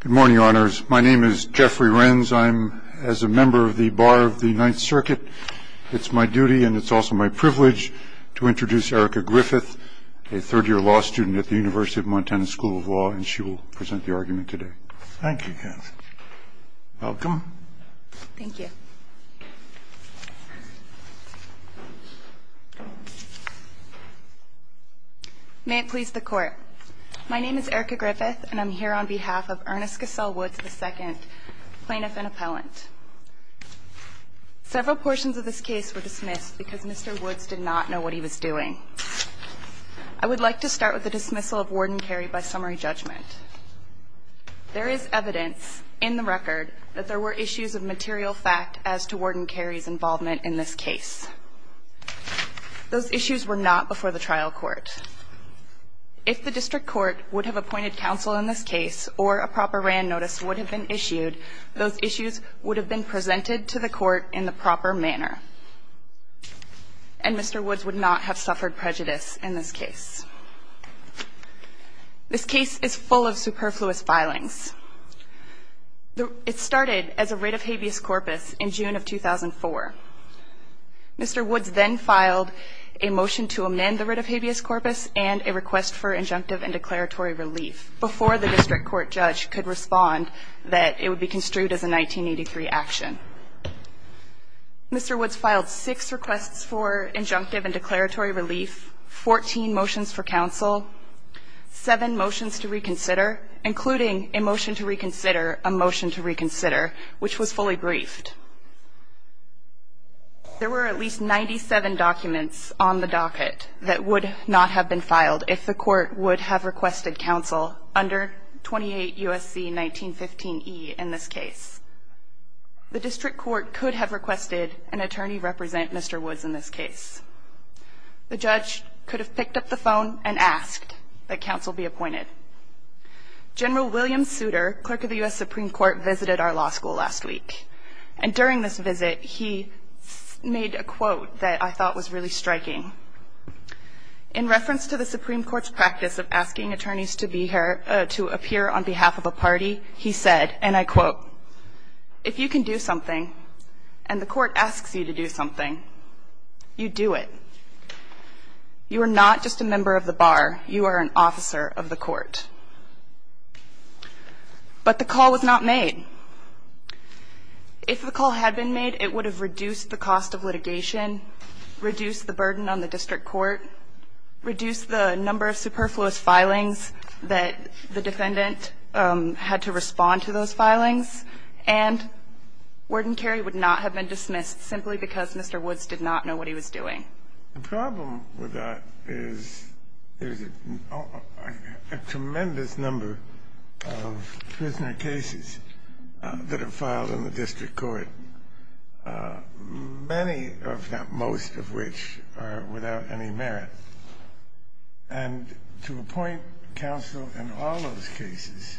Good morning, honors. My name is Jeffrey Renz. I'm, as a member of the Bar of the Ninth Circuit, it's my duty and it's also my privilege to introduce Erica Griffith, a third-year law student at the University of Montana School of Law. And she will present the argument today. Thank you, Jeff. Welcome. Thank you. May it please the court. My name is Erica Griffith. And I'm here on behalf of Ernest Cassell Woods, II, plaintiff and appellant. Several portions of this case were dismissed because Mr. Woods did not know what he was doing. I would like to start with the dismissal of Warden Carey by summary judgment. There is evidence in the record that there were issues of material fact as to Warden Carey's involvement in this case. Those issues were not before the trial court. If the district court would have appointed counsel in this case or a proper RAND notice would have been issued, those issues would have been presented to the court in the proper manner. And Mr. Woods would not have suffered prejudice in this case. This case is full of superfluous filings. It started as a writ of habeas corpus in June of 2004. Mr. Woods then filed a motion to amend the writ of habeas corpus and a request for injunctive and declaratory relief before the district court judge could respond that it would be construed as a 1983 action. Mr. Woods filed six requests for injunctive and declaratory relief, 14 motions for counsel, seven motions to reconsider, including a motion to reconsider a motion to reconsider, which was fully briefed. There were at least 97 documents on the docket that would not have been filed if the court would have requested counsel under 28 USC 1915E in this case. The district court could have requested an attorney represent Mr. Woods in this case. The judge could have picked up the phone and asked that counsel be appointed. General William Souter, clerk of the US Supreme Court, visited our law school last week. And during this visit, he made a quote that I thought was really striking. In reference to the Supreme Court's practice of asking attorneys to appear on behalf of a party, he said, and I quote, if you can do something and the court asks you to do something, you do it. You are not just a member of the bar. You are an officer of the court. But the call was not made. If the call had been made, it would have reduced the cost of litigation, reduced the burden on the district court, reduced the number of superfluous filings that the defendant had to respond to those filings, and Warden Carey would not have been dismissed simply because Mr. Woods did not know what he was doing. The problem with that is there's a tremendous number of prisoner cases that are filed in the district court, many of them, most of which are without any merit. And to appoint counsel in all those cases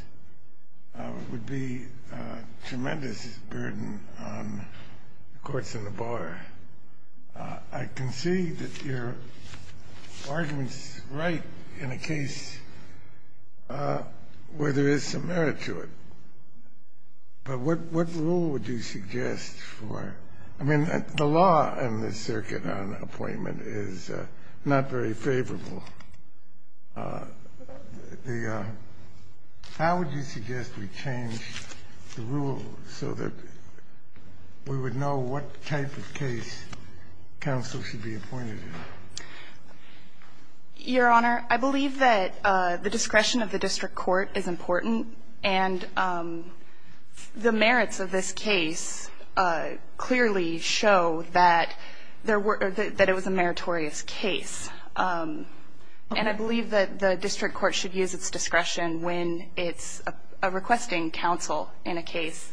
would be a tremendous burden on the courts and the bar. I can see that your argument's right in a case where there is some merit to it. But what rule would you suggest for it? I mean, the law in the Circuit on Appointment is not very favorable. How would you suggest we change the rule so that we would know what type of case counsel should be appointed in? Your Honor, I believe that the discretion of the district court is important. And the merits of this case clearly show that it was a meritorious case. And I believe that the district court should use its discretion when it's requesting counsel in a case.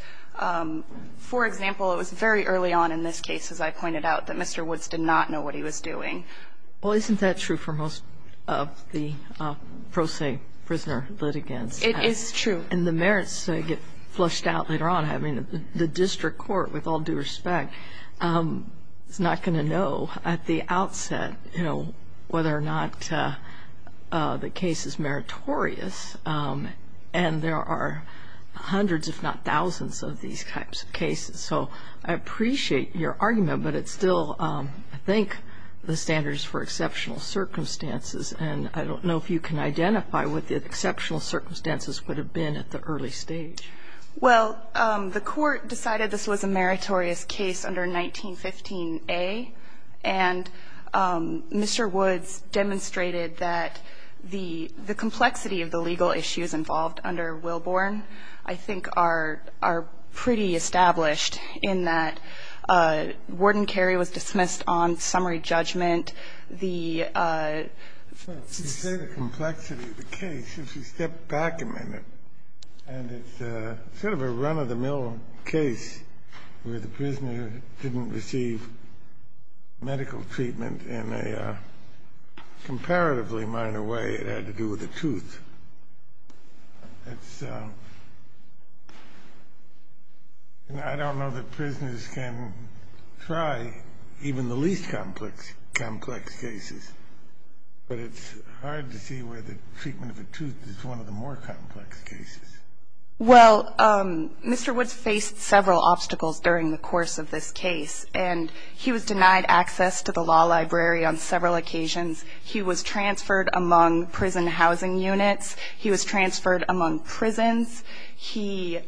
For example, it was very early on in this case, as I pointed out, that Mr. Woods did not know what he was doing. Well, isn't that true for most of the pro se prisoner litigants? It is true. And the merits get flushed out later on. I mean, the district court, with all due respect, is not going to know at the outset whether or not the case is meritorious. And there are hundreds, if not thousands, of these types of cases. So I appreciate your argument. But it's still, I think, the standards for exceptional circumstances. And I don't know if you can identify what the exceptional circumstances would have been at the early stage. Well, the court decided this was a meritorious case under 1915a. And Mr. Woods demonstrated that the complexity of the legal issues involved under Wilborn, I think, are pretty established in that Warden Carey was dismissed on summary judgment. The complexity of the case, if you step back a minute, and it's sort of a run-of-the-mill case where the prisoner didn't receive medical treatment in a comparatively minor way. It had to do with a tooth. And I don't know that prisoners can try even the least complex cases. But it's hard to see where the treatment of a tooth is one of the more complex cases. Well, Mr. Woods faced several obstacles during the course of this case. And he was denied access to the law library on several occasions. He was transferred among prison housing units. He was transferred among prisons. He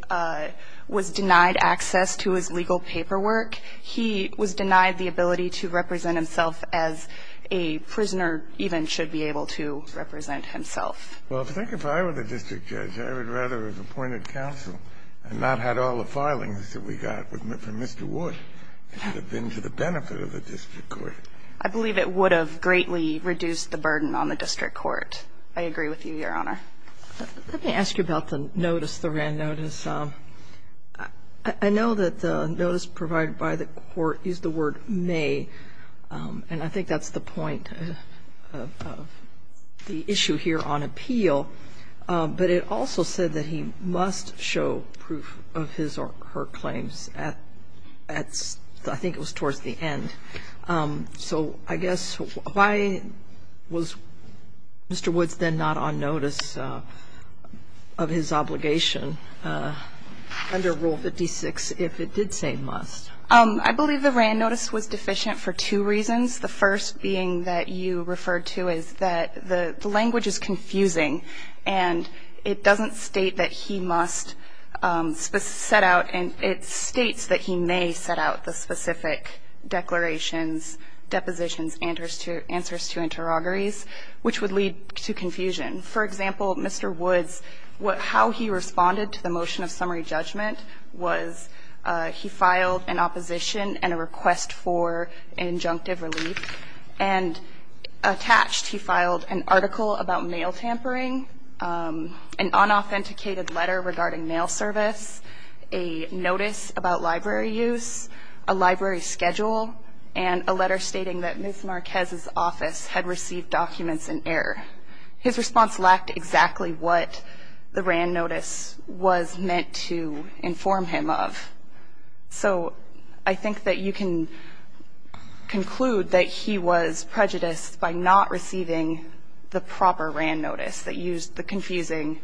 was denied access to his legal paperwork. He was denied the ability to represent himself as a prisoner even should be able to represent himself. Well, I think if I were the district judge, I would rather have appointed counsel and not had all the filings that we got from Mr. Woods. It would have been to the benefit of the district court. I believe it would have greatly reduced the burden on the district court. I agree with you, Your Honor. Let me ask you about the notice, the written notice. I know that the notice provided by the court is the word may. And I think that's the point of the issue here on appeal. But it also said that he must show proof of his or her claims at, I think it was towards the end. So I guess, why was Mr. Woods then not on notice of his obligation under Rule 56 if it did say must? I believe the Wran notice was deficient for two reasons. The first being that you referred to is that the language is confusing. And it doesn't state that he must set out. And it states that he may set out the specific declarations, depositions, answers to interrogatories, which would lead to confusion. For example, Mr. Woods, how he responded to the motion of summary judgment was he filed an opposition and a request for injunctive relief. And attached, he filed an article about mail tampering, an unauthenticated letter regarding mail service, a notice about library use, a library schedule, and a letter stating that Ms. Marquez's office had received documents in error. His response lacked exactly what the Wran notice was meant to inform him of. So I think that you can conclude that he was prejudiced by not receiving the proper Wran notice that used the confusing,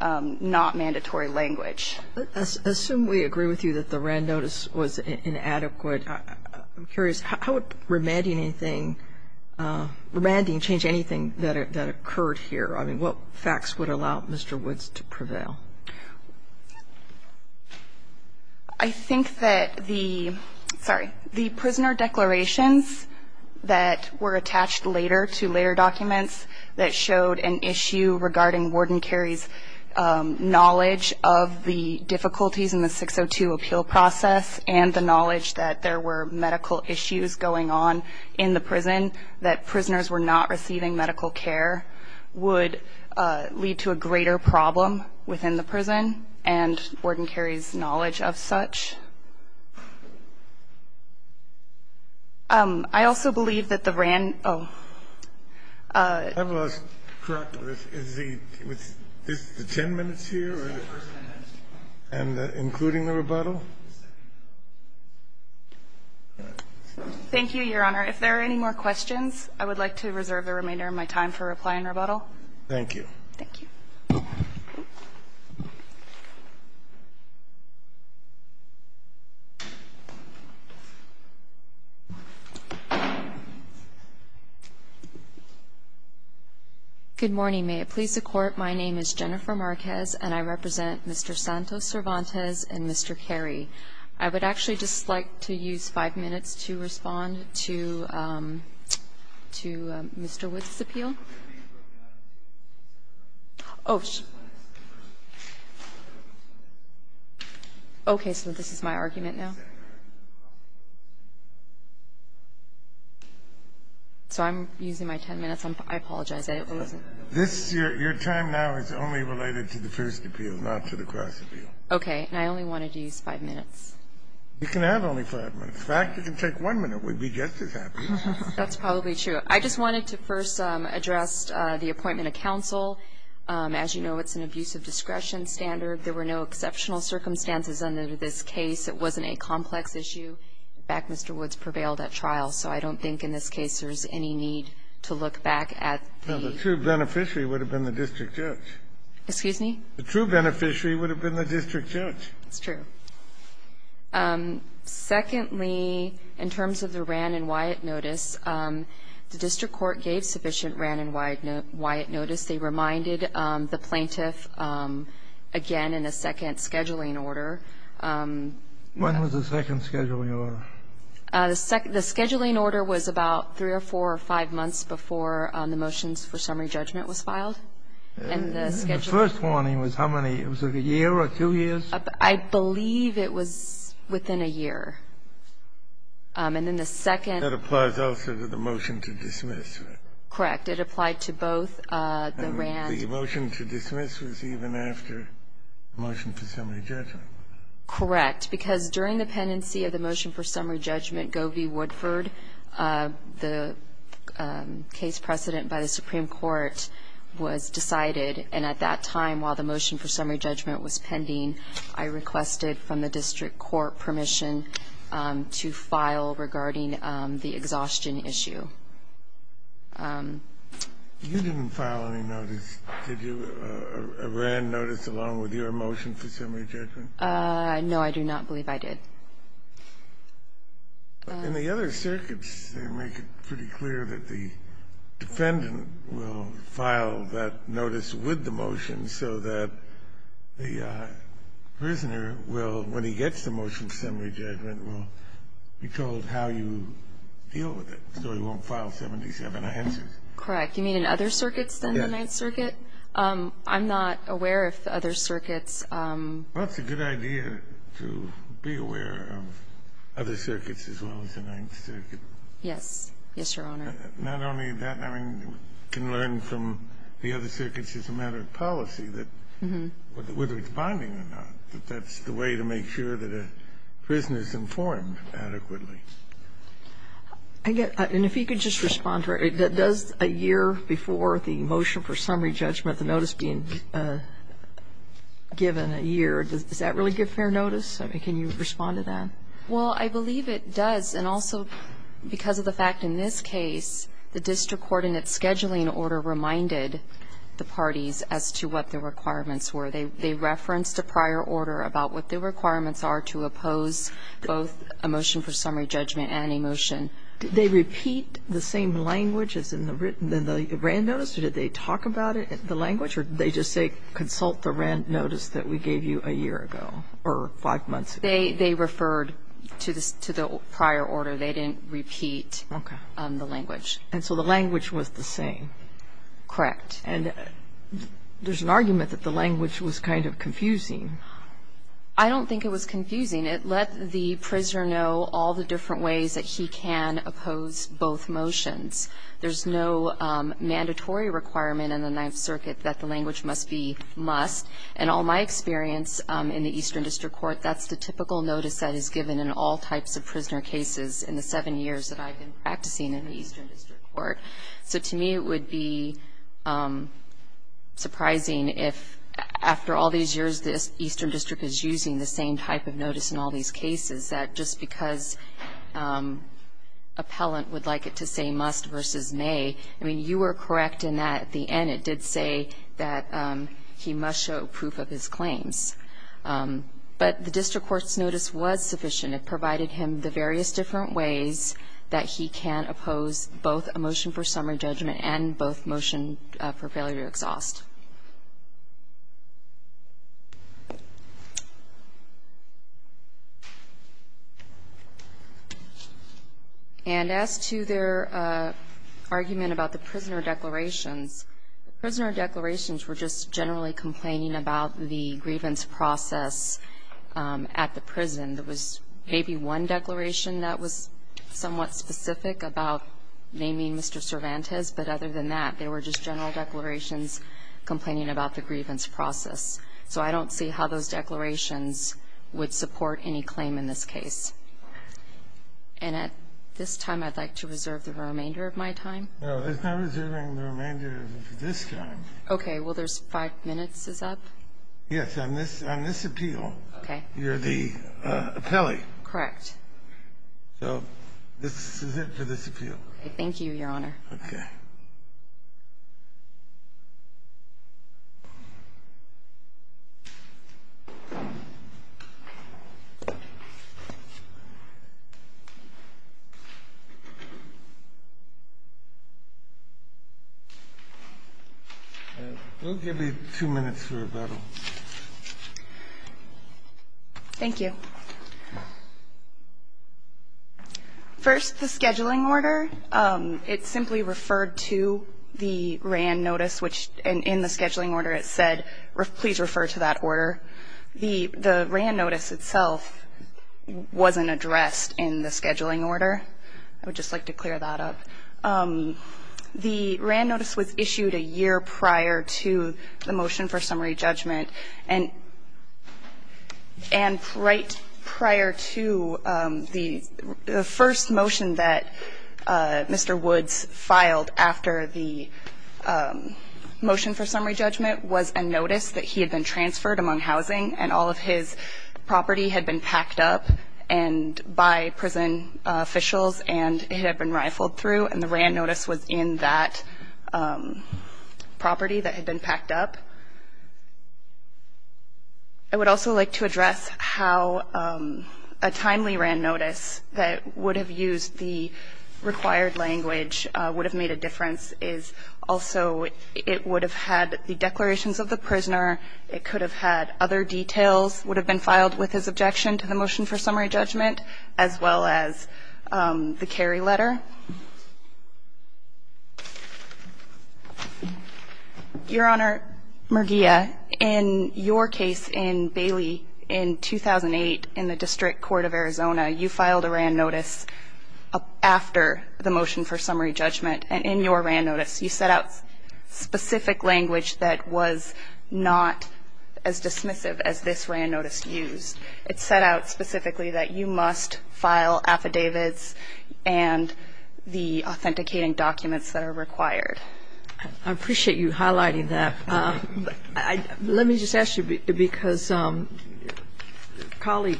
not mandatory language. Assume we agree with you that the Wran notice was inadequate. I'm curious, how would remanding anything, remanding change anything that occurred here? I mean, what facts would allow Mr. Woods to prevail? I think that the, sorry, the prisoner declarations that were attached later to later documents that showed an issue regarding Warden Carey's knowledge of the difficulties in the 602 appeal process and the knowledge that there were medical issues going on in the prison, that prisoners were not receiving medical care, would lead to a greater problem within the prison and Warden Carey's knowledge of such. I also believe that the Wran, oh, is the 10 minutes here and including the rebuttal? Thank you, Your Honor. If there are any more questions, I would like to reserve the remainder of my time for reply and rebuttal. Thank you. Thank you. Good morning. May it please the Court, my name is Jennifer Marquez and I represent Mr. Santos Cervantes and Mr. Carey. I would actually just like to use 5 minutes to respond to Mr. Woods' appeal. Oh, okay, so this is my argument now? So I'm using my 10 minutes, I apologize. This, your time now is only related to the first appeal, not to the cross appeal. Okay, and I only wanted to use 5 minutes. You can have only 5 minutes. In fact, you can take 1 minute, we'd be just as happy. That's probably true. I just wanted to first address the appointment of counsel. As you know, it's an abuse of discretion standard. There were no exceptional circumstances under this case. It wasn't a complex issue. In fact, Mr. Woods prevailed at trial, so I don't think in this case there's any need to look back at the... No, the true beneficiary would have been the district judge. Excuse me? The true beneficiary would have been the district judge. That's true. Secondly, in terms of the Rann and Wyatt notice, the district court gave sufficient Rann and Wyatt notice. They reminded the plaintiff again in the second scheduling order... When was the second scheduling order? The second the scheduling order was about 3 or 4 or 5 months before the motions for summary judgment was filed. And the scheduling... The first warning was how many? Was it a year or two years? I believe it was within a year. And then the second... That applies also to the motion to dismiss. Correct. It applied to both the Rann... The motion to dismiss was even after the motion for summary judgment. Correct. Because during the pendency of the motion for summary judgment, Govey-Woodford, the case precedent by the Supreme Court, was decided. And at that time, while the motion for summary judgment was pending, I requested from the district court permission to file regarding the exhaustion issue. You didn't file any notice, did you, a Rann notice along with your motion for summary judgment? No, I do not believe I did. In the other circuits, they make it pretty clear that the defendant will file that notice with the motion so that the prisoner will, when he gets the motion for summary judgment, will be told how you deal with it, so he won't file 77 answers. Correct. You mean in other circuits than the Ninth Circuit? Yes. I'm not aware if the other circuits... Well, it's a good idea to be aware of other circuits as well as the Ninth Circuit. Yes. Yes, Your Honor. Not only that. I mean, we can learn from the other circuits as a matter of policy that, whether it's binding or not, that that's the way to make sure that a prisoner is informed adequately. And if you could just respond to her. Does a year before the motion for summary judgment, the notice being given a year, does that really give fair notice? I mean, can you respond to that? Well, I believe it does. And also, because of the fact in this case, the district coordinate scheduling order reminded the parties as to what the requirements were. They referenced a prior order about what the requirements are to oppose both a motion for summary judgment and a motion. Did they repeat the same language as in the Wran notice? Or did they talk about the language? Or did they just say, consult the Wran notice that we gave you a year ago or five months ago? They referred to the prior order. They didn't repeat the language. Okay. And so the language was the same? Correct. And there's an argument that the language was kind of confusing. I don't think it was confusing. It let the prisoner know all the different ways that he can oppose both motions. There's no mandatory requirement in the Ninth Circuit that the language must be must. In all my experience in the Eastern District Court, that's the typical notice that is given in all types of prisoner cases in the seven years that I've been practicing in the Eastern District Court. So to me, it would be surprising if after all these years, the Eastern District is using the same type of notice in all these cases, that just because appellant would like it to say must versus may, I mean, you were correct in that at the end it did say that he must show proof of his claims. But the district court's notice was sufficient. It provided him the various different ways that he can oppose both a motion for summary judgment and both motion for failure to exhaust. And as to their argument about the prisoner declarations, the prisoner declarations were just generally complaining about the grievance process at the prison. There was maybe one declaration that was somewhat specific about naming Mr. Cervantes, but other than that, they were just general declarations. Complaining about the grievance process. So I don't see how those declarations would support any claim in this case. And at this time, I'd like to reserve the remainder of my time. No, there's no reserving the remainder of this time. Okay. Well, there's five minutes is up. Yes. On this appeal, you're the appellee. Correct. So this is it for this appeal. Thank you, Your Honor. Okay. We'll give you two minutes for rebuttal. Thank you. First, the scheduling order. It simply referred to the RAND notice, which in the scheduling order, it said, please refer to that order. The RAND notice itself wasn't addressed in the scheduling order. I would just like to clear that up. The RAND notice was issued a year prior to the motion for summary judgment. And right prior to the first motion that Mr. Woods filed after the motion for summary judgment was a notice that he had been transferred among housing and all of his property had been packed up and by prison officials and had been rifled through, and the RAND I would also like to address how a timely RAND notice that would have used the required language would have made a difference is also it would have had the declarations of the prisoner, it could have had other details, would have been filed with his objection to the motion for summary judgment, as well as the carry letter. Your Honor, Murguia, in your case in Bailey in 2008 in the District Court of Arizona, you filed a RAND notice after the motion for summary judgment. And in your RAND notice, you set out specific language that was not as dismissive as this RAND notice used. It set out specifically that you must file affidavits and the authenticating documents that are required. I appreciate you highlighting that. Let me just ask you because a colleague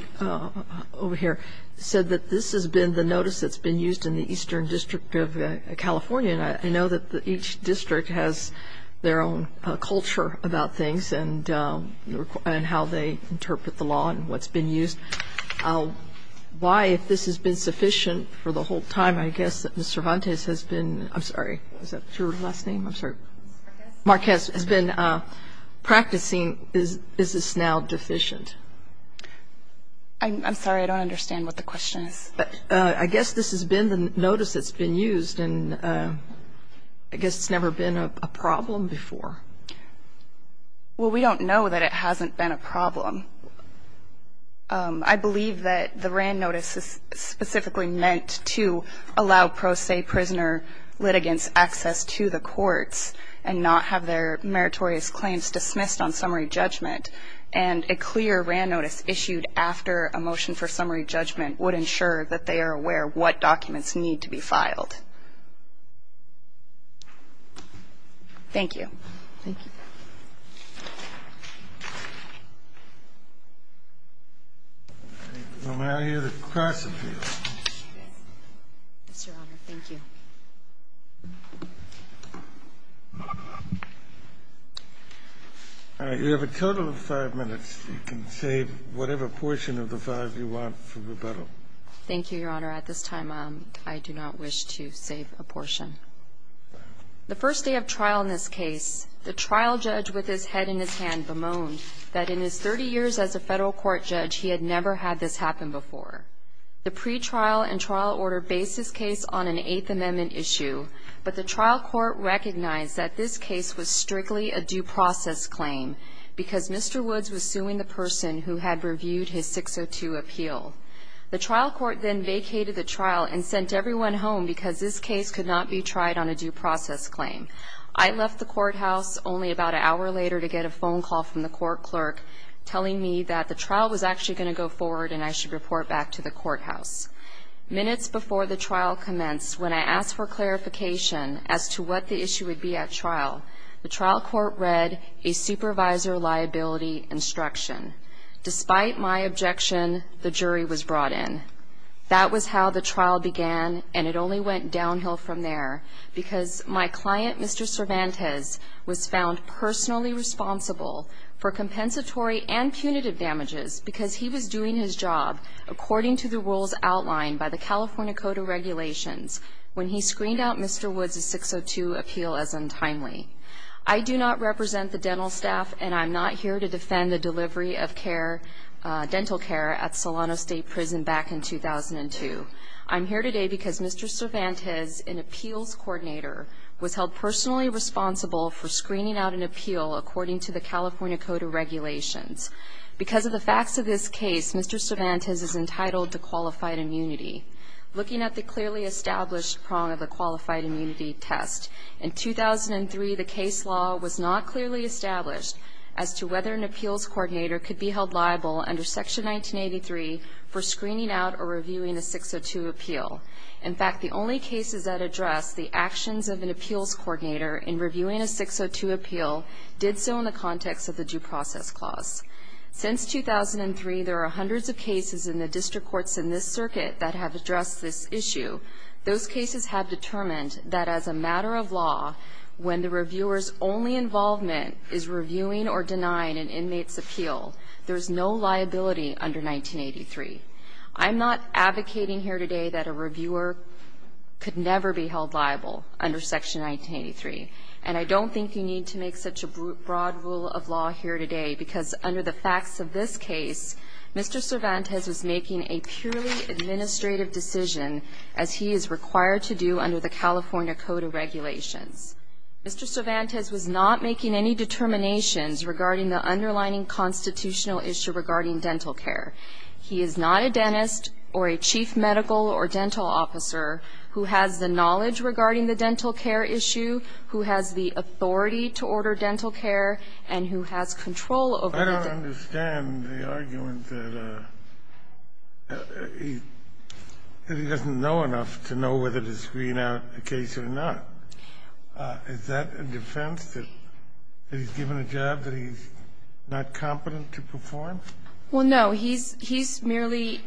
over here said that this has been the notice that's been used in the Eastern District of California, and I know that each district has their own culture about things and how they interpret the law and what's been used. Why, if this has been sufficient for the whole time, I guess that Mr. Montes has been practicing, is this now deficient? I'm sorry, I don't understand what the question is. I guess this has been the notice that's been used, and I guess it's never been a problem before. Well, we don't know that it hasn't been a problem. I believe that the RAND notice is specifically meant to allow pro se prisoner litigants access to the courts and not have their meritorious claims dismissed on summary judgment. And a clear RAND notice issued after a motion for summary judgment would ensure that they are aware what documents need to be filed. Thank you. Thank you. Thank you, Your Honor. Thank you. All right. You have a total of five minutes. You can save whatever portion of the five you want for rebuttal. Thank you, Your Honor. At this time, I do not wish to take any further questions. The first day of trial in this case, the trial judge with his head in his hand bemoaned that in his 30 years as a federal court judge, he had never had this happen before. The pretrial and trial order based this case on an Eighth Amendment issue, but the trial court recognized that this case was strictly a due process claim because Mr. Woods was suing the person who had reviewed his 602 appeal. The trial court then vacated the trial and sent everyone home because this case could not be tried on a due process claim. I left the courthouse only about an hour later to get a phone call from the court clerk telling me that the trial was actually going to go forward and I should report back to the courthouse. Minutes before the trial commenced, when I asked for clarification as to what the issue would be at trial, the trial court read a supervisor liability instruction. Despite my objection, the jury was brought in. That was how the trial began, and it only went downhill from there because my client, Mr. Cervantes, was found personally responsible for compensatory and punitive damages because he was doing his job according to the rules outlined by the California Code of Regulations when he screened out Mr. Woods' 602 appeal as untimely. I do not represent the dental staff, and I'm not here to defend the delivery of dental care at Solano State Prison back in 2002. I'm here today because Mr. Cervantes, an appeals coordinator, was held personally responsible for screening out an appeal according to the California Code of Regulations. Because of the facts of this case, Mr. Cervantes is entitled to qualified immunity. Looking at the clearly established prong of the qualified immunity test, in 2003 the case law was not clearly established as to whether an appeals coordinator could be held liable under Section 1983 for screening out or reviewing a 602 appeal. In fact, the only cases that address the actions of an appeals coordinator in reviewing a 602 appeal did so in the context of the due process clause. Since 2003, there are hundreds of cases in the district courts in this circuit that have addressed this issue. Those cases have determined that as a matter of law, when the reviewer's only involvement is reviewing or denying an inmate's appeal, there's no liability under 1983. I'm not advocating here today that a reviewer could never be held liable under Section 1983, and I don't think you need to make such a broad rule of law here today, because under the facts of this case, Mr. Cervantes was making a purely administrative decision, as he is required to do under the California Code of Regulations. Mr. Cervantes was not making any determinations regarding the underlying constitutional issue regarding dental care. He is not a dentist or a chief medical or dental officer who has the knowledge regarding the dental care issue, who has the authority to order dental care, and who has control over the dental care. He doesn't know enough to know whether to screen out a case or not. Is that a defense, that he's given a job that he's not competent to perform? Well, no. He's merely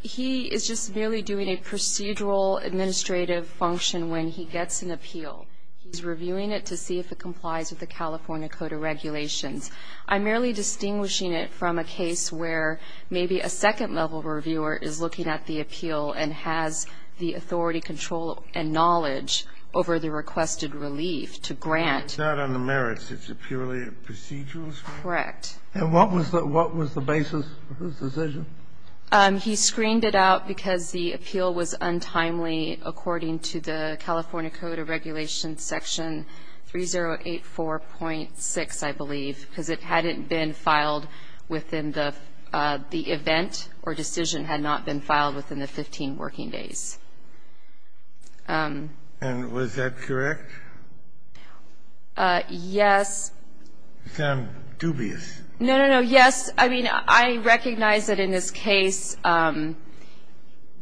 he is just merely doing a procedural administrative function when he gets an appeal. He's reviewing it to see if it complies with the California Code of Regulations. I'm merely distinguishing it from a case where maybe a second-level reviewer is looking at the appeal and has the authority, control, and knowledge over the requested relief to grant. It's not on the merits. It's a purely procedural? Correct. And what was the basis of his decision? He screened it out because the appeal was untimely, according to the California Code of Regulations, Section 3084.6, I believe, because it hadn't been filed within the event or decision had not been filed within the 15 working days. And was that correct? Yes. I sound dubious. No, no, no. I mean, I recognize that in this case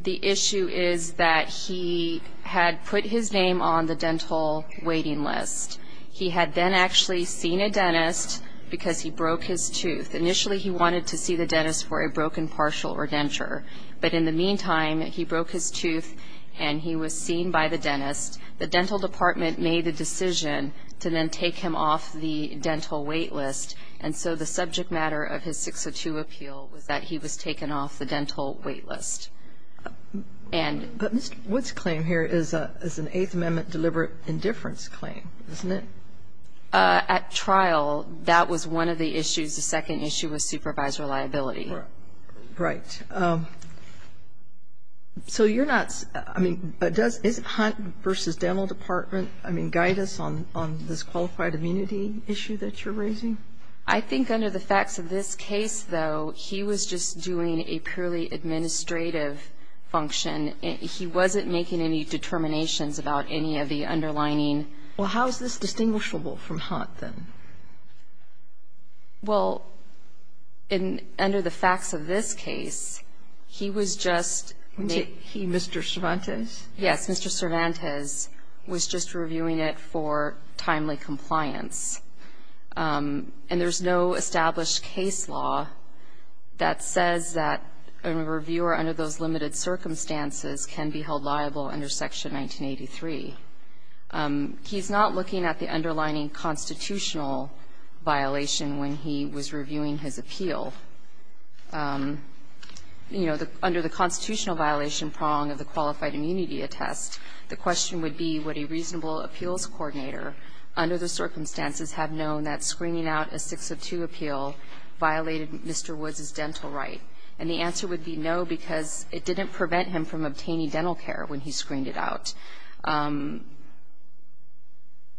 the issue is that he had put his name on the dental waiting list. He had then actually seen a dentist because he broke his tooth. Initially, he wanted to see the dentist for a broken partial or denture. But in the meantime, he broke his tooth and he was seen by the dentist. The dental department made the decision to then take him off the dental wait list. And so the subject matter of his 602 appeal was that he was taken off the dental wait list. But Mr. Wood's claim here is an Eighth Amendment deliberate indifference claim, isn't it? At trial, that was one of the issues. The second issue was supervisor liability. Right. So you're not ‑‑ I mean, is Hunt v. Dental Department, I mean, is he making any determinations about any of the underlying? Well, how is this distinguishable from Hunt, then? Well, under the facts of this case, he was just ‑‑ Was he Mr. Cervantes? Yes. And there's no established case law that says that a reviewer under those limited circumstances can be held liable under Section 1983. He's not looking at the underlining constitutional violation when he was reviewing his appeal. You know, under the constitutional violation prong of the qualified immunity test, the question would be would a reasonable appeals coordinator under the circumstances have known that screening out a 602 appeal violated Mr. Wood's dental right? And the answer would be no, because it didn't prevent him from obtaining dental care when he screened it out.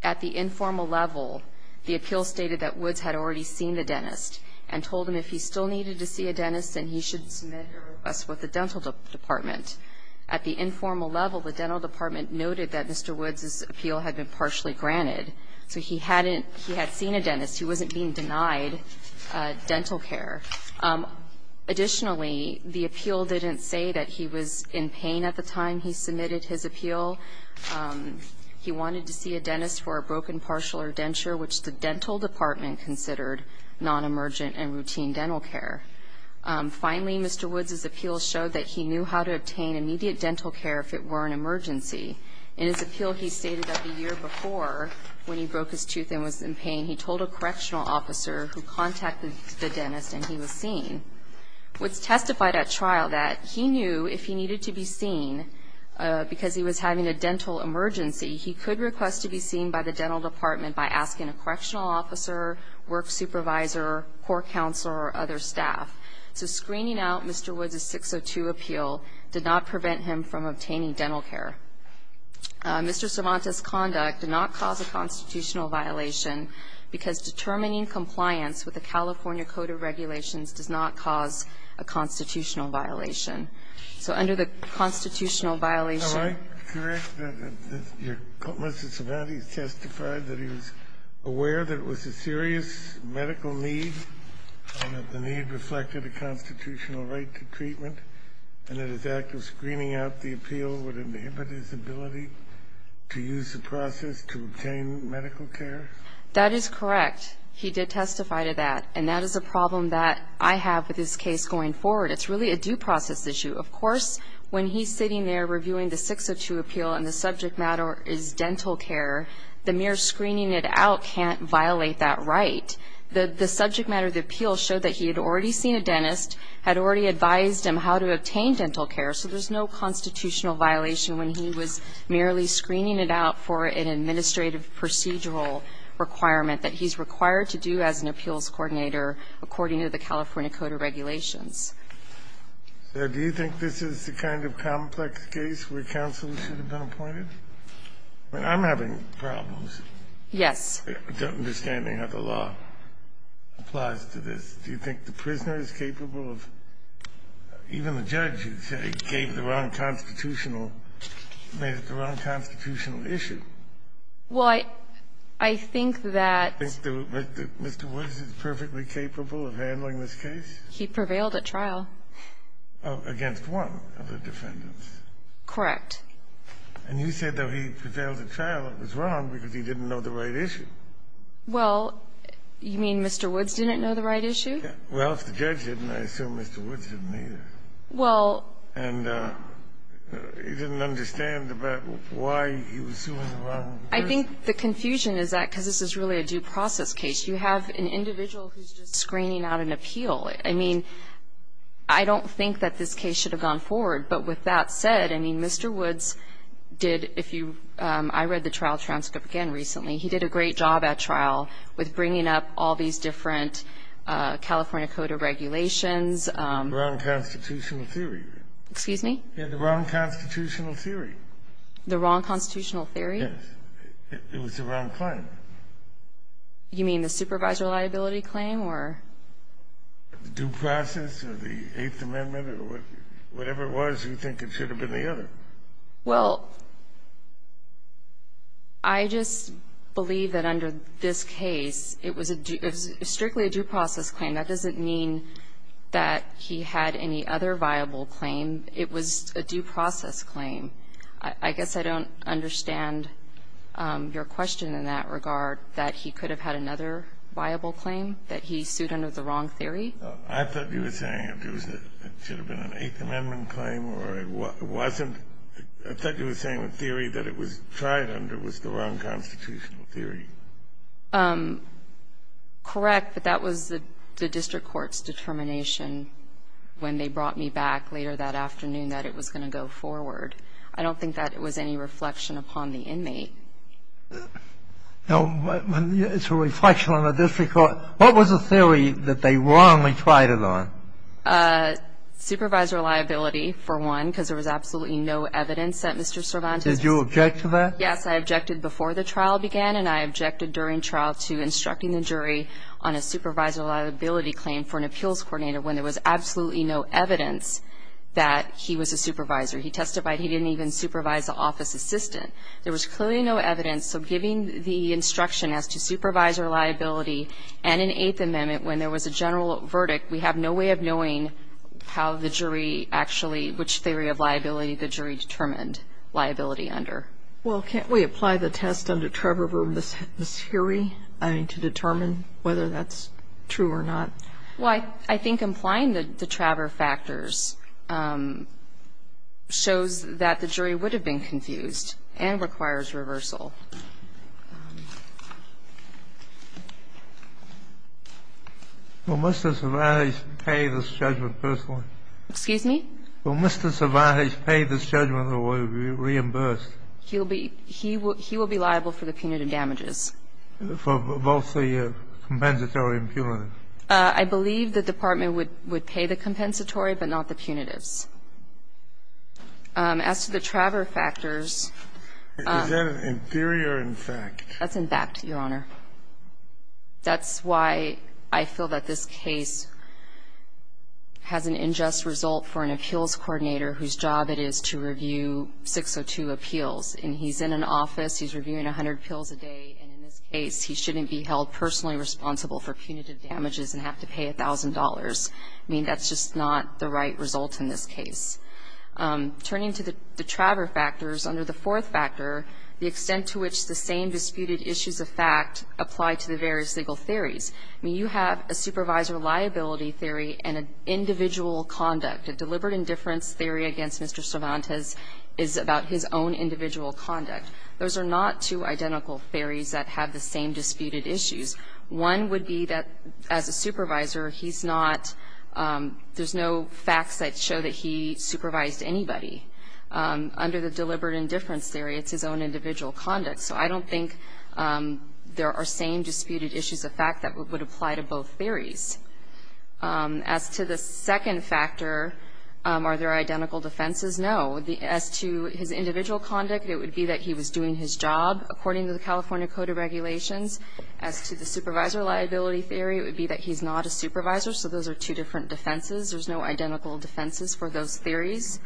At the informal level, the appeal stated that Wood's had already seen the dentist and told him if he still needed to see a dentist, then he should submit a request with the dental department. At the informal level, the dental department noted that Mr. Wood's appeal had been partially granted. So he hadn't ‑‑ he had seen a dentist. He wasn't being denied dental care. Additionally, the appeal didn't say that he was in pain at the time he submitted his appeal. He wanted to see a dentist for a broken partial or denture, which the dental department considered non‑emergent and routine dental care. Finally, Mr. Wood's appeal showed that he knew how to obtain immediate dental care if it were an emergency. In his appeal, he stated that the year before, when he broke his tooth and was in pain, he told a correctional officer who contacted the dentist and he was seen. Wood's testified at trial that he knew if he needed to be seen because he was having a dental emergency, he could request to be seen by the dental department by asking a correctional officer, work supervisor, court counselor, or other staff. So screening out Mr. Wood's 602 appeal did not prevent him from obtaining dental care. Mr. Cervantes' conduct did not cause a constitutional violation because determining compliance with the California Code of Regulations does not cause a constitutional violation. So under the constitutional violation ‑‑ he was aware that it was a serious medical need and that the need reflected a constitutional right to treatment and that his act of screening out the appeal would inhibit his ability to use the process to obtain medical care? That is correct. He did testify to that. And that is a problem that I have with this case going forward. It's really a due process issue. Of course, when he's sitting there reviewing the 602 appeal and the subject matter is dental care, the mere screening it out can't violate that right. The subject matter of the appeal showed that he had already seen a dentist, had already advised him how to obtain dental care, so there's no constitutional violation when he was merely screening it out for an administrative procedural requirement that he's required to do as an appeals coordinator according to the California Code of Regulations. Do you think this is the kind of complex case where counsel should have been appointed? I mean, I'm having problems. Yes. Understanding how the law applies to this. Do you think the prisoner is capable of ‑‑ even the judge, you say, gave the wrong constitutional ‑‑ made it the wrong constitutional issue. Well, I think that ‑‑ Do you think that Mr. Woods is perfectly capable of handling this case? He prevailed at trial. Against one of the defendants. Correct. And you said that he prevailed at trial. It was wrong because he didn't know the right issue. Well, you mean Mr. Woods didn't know the right issue? Well, if the judge didn't, I assume Mr. Woods didn't either. Well ‑‑ And he didn't understand about why he was suing the wrong person. I think the confusion is that, because this is really a due process case, you have an individual who's just screening out an appeal. I mean, I don't think that this case should have gone forward. But with that said, I mean, Mr. Woods did, if you ‑‑ I read the trial transcript again recently. He did a great job at trial with bringing up all these different California code of regulations. Wrong constitutional theory. Excuse me? Yeah, the wrong constitutional theory. The wrong constitutional theory? Yes. It was the wrong claim. You mean the supervisor liability claim or ‑‑ The due process or the Eighth Amendment or whatever it was you think it should have been the other. Well, I just believe that under this case, it was a ‑‑ it was strictly a due process claim. That doesn't mean that he had any other viable claim. It was a due process claim. I guess I don't understand your question in that regard, that he could have had another viable claim, that he sued under the wrong theory. I thought you were saying it should have been an Eighth Amendment claim or it wasn't. I thought you were saying the theory that it was tried under was the wrong constitutional theory. Correct. But that was the district court's determination when they brought me back later that afternoon that it was going to go forward. I don't think that it was any reflection upon the inmate. No. It's a reflection on the district court. What was the theory that they wrongly tried it on? Supervisor liability, for one, because there was absolutely no evidence that Mr. Cervantes ‑‑ Did you object to that? Yes. I objected before the trial began and I objected during trial to instructing the jury on a supervisor liability claim for an appeals coordinator when there was absolutely no evidence that he was a supervisor. He testified he didn't even supervise the office assistant. There was clearly no evidence. So giving the instruction as to supervisor liability and an Eighth Amendment when there was a general verdict, we have no way of knowing how the jury actually ‑‑ which theory of liability the jury determined liability under. Well, can't we apply the test under Trevor v. Massieri, I mean, to determine whether that's true or not? Well, I think applying the Trevor factors shows that the jury would have been confused and requires reversal. Will Mr. Cervantes pay this judgment personally? Excuse me? Will Mr. Cervantes pay this judgment or will he be reimbursed? He will be liable for the punitive damages. For both the compensatory and punitive? I believe the department would pay the compensatory but not the punitives. As to the Trevor factors ‑‑ Is that an inferior in fact? That's in fact, Your Honor. That's why I feel that this case has an unjust result for an appeals coordinator whose job it is to review 602 appeals. And he's in an office, he's reviewing 100 appeals a day, and in this case, he shouldn't be held personally responsible for punitive damages and have to pay $1,000. I mean, that's just not the right result in this case. Turning to the Trevor factors, under the fourth factor, the extent to which the same disputed issues of fact apply to the various legal theories. I mean, you have a supervisor liability theory and an individual conduct. A deliberate indifference theory against Mr. Cervantes is about his own individual conduct. Those are not two identical theories that have the same disputed issues. One would be that as a supervisor, he's not ‑‑ there's no facts that show that he supervised anybody. Under the deliberate indifference theory, it's his own individual conduct. So I don't think there are same disputed issues of fact that would apply to both theories. As to the second factor, are there identical defenses? No. As to his individual conduct, it would be that he was doing his job according to the California Code of Regulations. As to the supervisor liability theory, it would be that he's not a supervisor. So those are two different defenses. There's no identical defenses for those theories.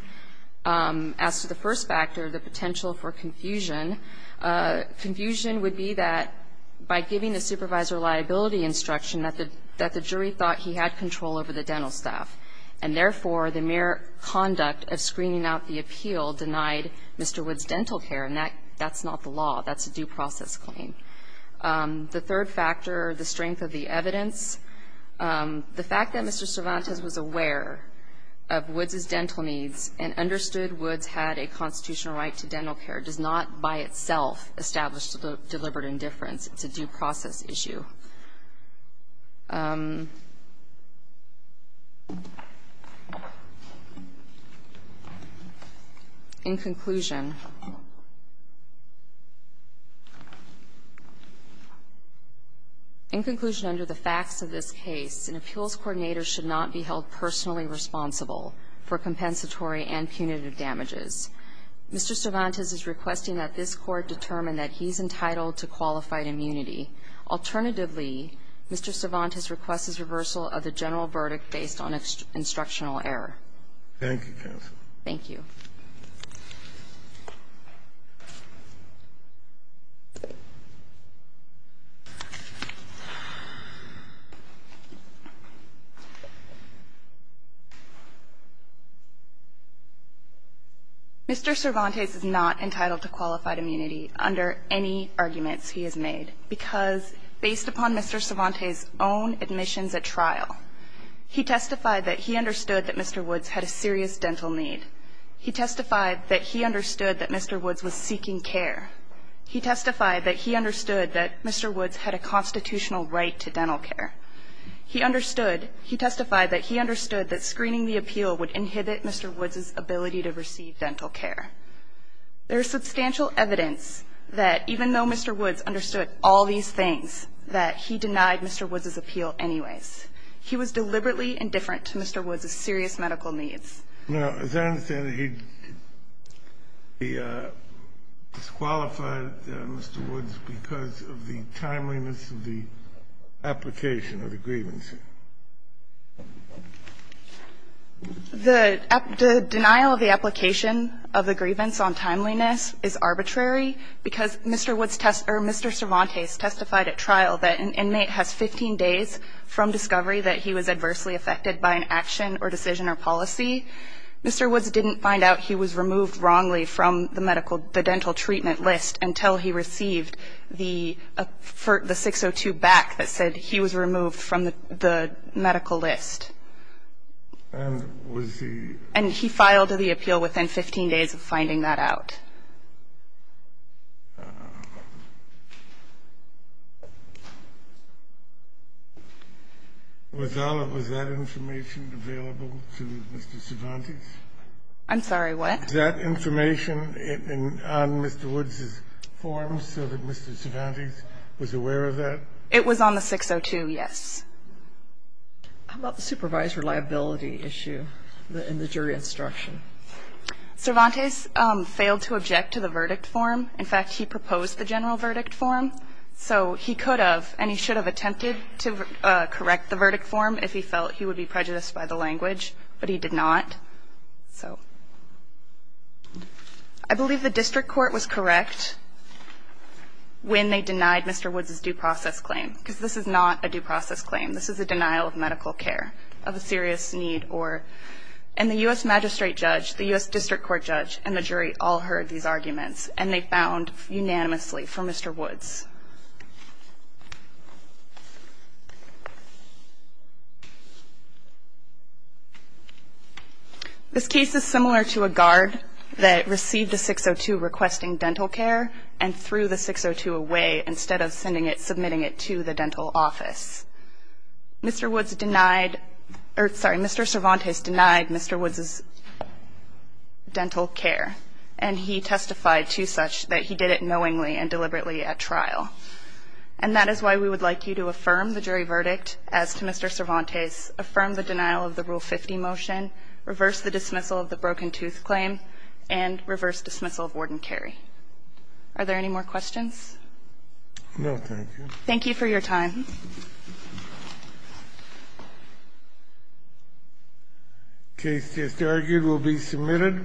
As to the first factor, the potential for confusion, confusion would be that by giving the supervisor liability instruction that the jury thought he had control over the dental staff. And therefore, the mere conduct of screening out the appeal denied Mr. Woods dental care, and that's not the law. That's a due process claim. The third factor, the strength of the evidence, the fact that Mr. Cervantes was aware of Woods' dental needs and understood Woods had a constitutional right to dental care does not by itself establish deliberate indifference. It's a due process issue. In conclusion, in conclusion, under the facts of this case, an appeals coordinator should not be held personally responsible for compensatory and punitive damages. Mr. Cervantes is requesting that this Court determine that he's entitled to qualified Mr. Cervantes requests reversal of the general verdict based on instructional error. Thank you, counsel. Thank you. Mr. Cervantes is not entitled to qualified immunity under any arguments he has made because, based upon Mr. Cervantes' own admissions at trial, he testified that he understood that Mr. Woods had a serious dental need. He testified that he understood that Mr. Woods was seeking care. He testified that he understood that Mr. Woods had a constitutional right to dental care. He testified that he understood that screening the appeal would inhibit Mr. Woods' ability to receive dental care. There is substantial evidence that even though Mr. Woods understood all these things, that he denied Mr. Woods' appeal anyways. He was deliberately indifferent to Mr. Woods' serious medical needs. Now, as I understand it, he disqualified Mr. Woods because of the timeliness of the application of the grievance. The denial of the application of the grievance on timeliness is arbitrary because Mr. Woods' test or Mr. Cervantes testified at trial that an inmate has 15 days from discovery that he was adversely affected by an action or decision or policy. Mr. Woods didn't find out he was removed wrongly from the dental treatment list until he received the 602 back that said he was removed from the dental treatment list until he received the medical list. And he filed the appeal within 15 days of finding that out. Was that information available to Mr. Cervantes? I'm sorry, what? Was that information on Mr. Woods' form so that Mr. Cervantes was aware of that? It was on the 602, yes. How about the supervisor liability issue in the jury instruction? Cervantes failed to object to the verdict form. In fact, he proposed the general verdict form, so he could have and he should have attempted to correct the verdict form if he felt he would be prejudiced by the language, but he did not. I believe the district court was correct when they denied Mr. Woods' due process claim, because this is not a due process claim. This is a denial of medical care, of a serious need. And the U.S. magistrate judge, the U.S. district court judge, and the jury all heard these arguments, and they found unanimously for Mr. Woods. This case is similar to a guard that received the 602 requesting dental care and threw the 602 away instead of sending it, submitting it to the dental office. Mr. Woods denied, or sorry, Mr. Cervantes denied Mr. Woods' dental care, and he testified to such that he did it knowingly and deliberately at trial. And that is why we would like you to affirm the jury verdict as to Mr. Cervantes, affirm the denial of the Rule 50 motion, reverse the dismissal of the broken tooth claim, and reverse dismissal of Warden Carey. Are there any more questions? No, thank you. Thank you for your time. The case just argued will be submitted.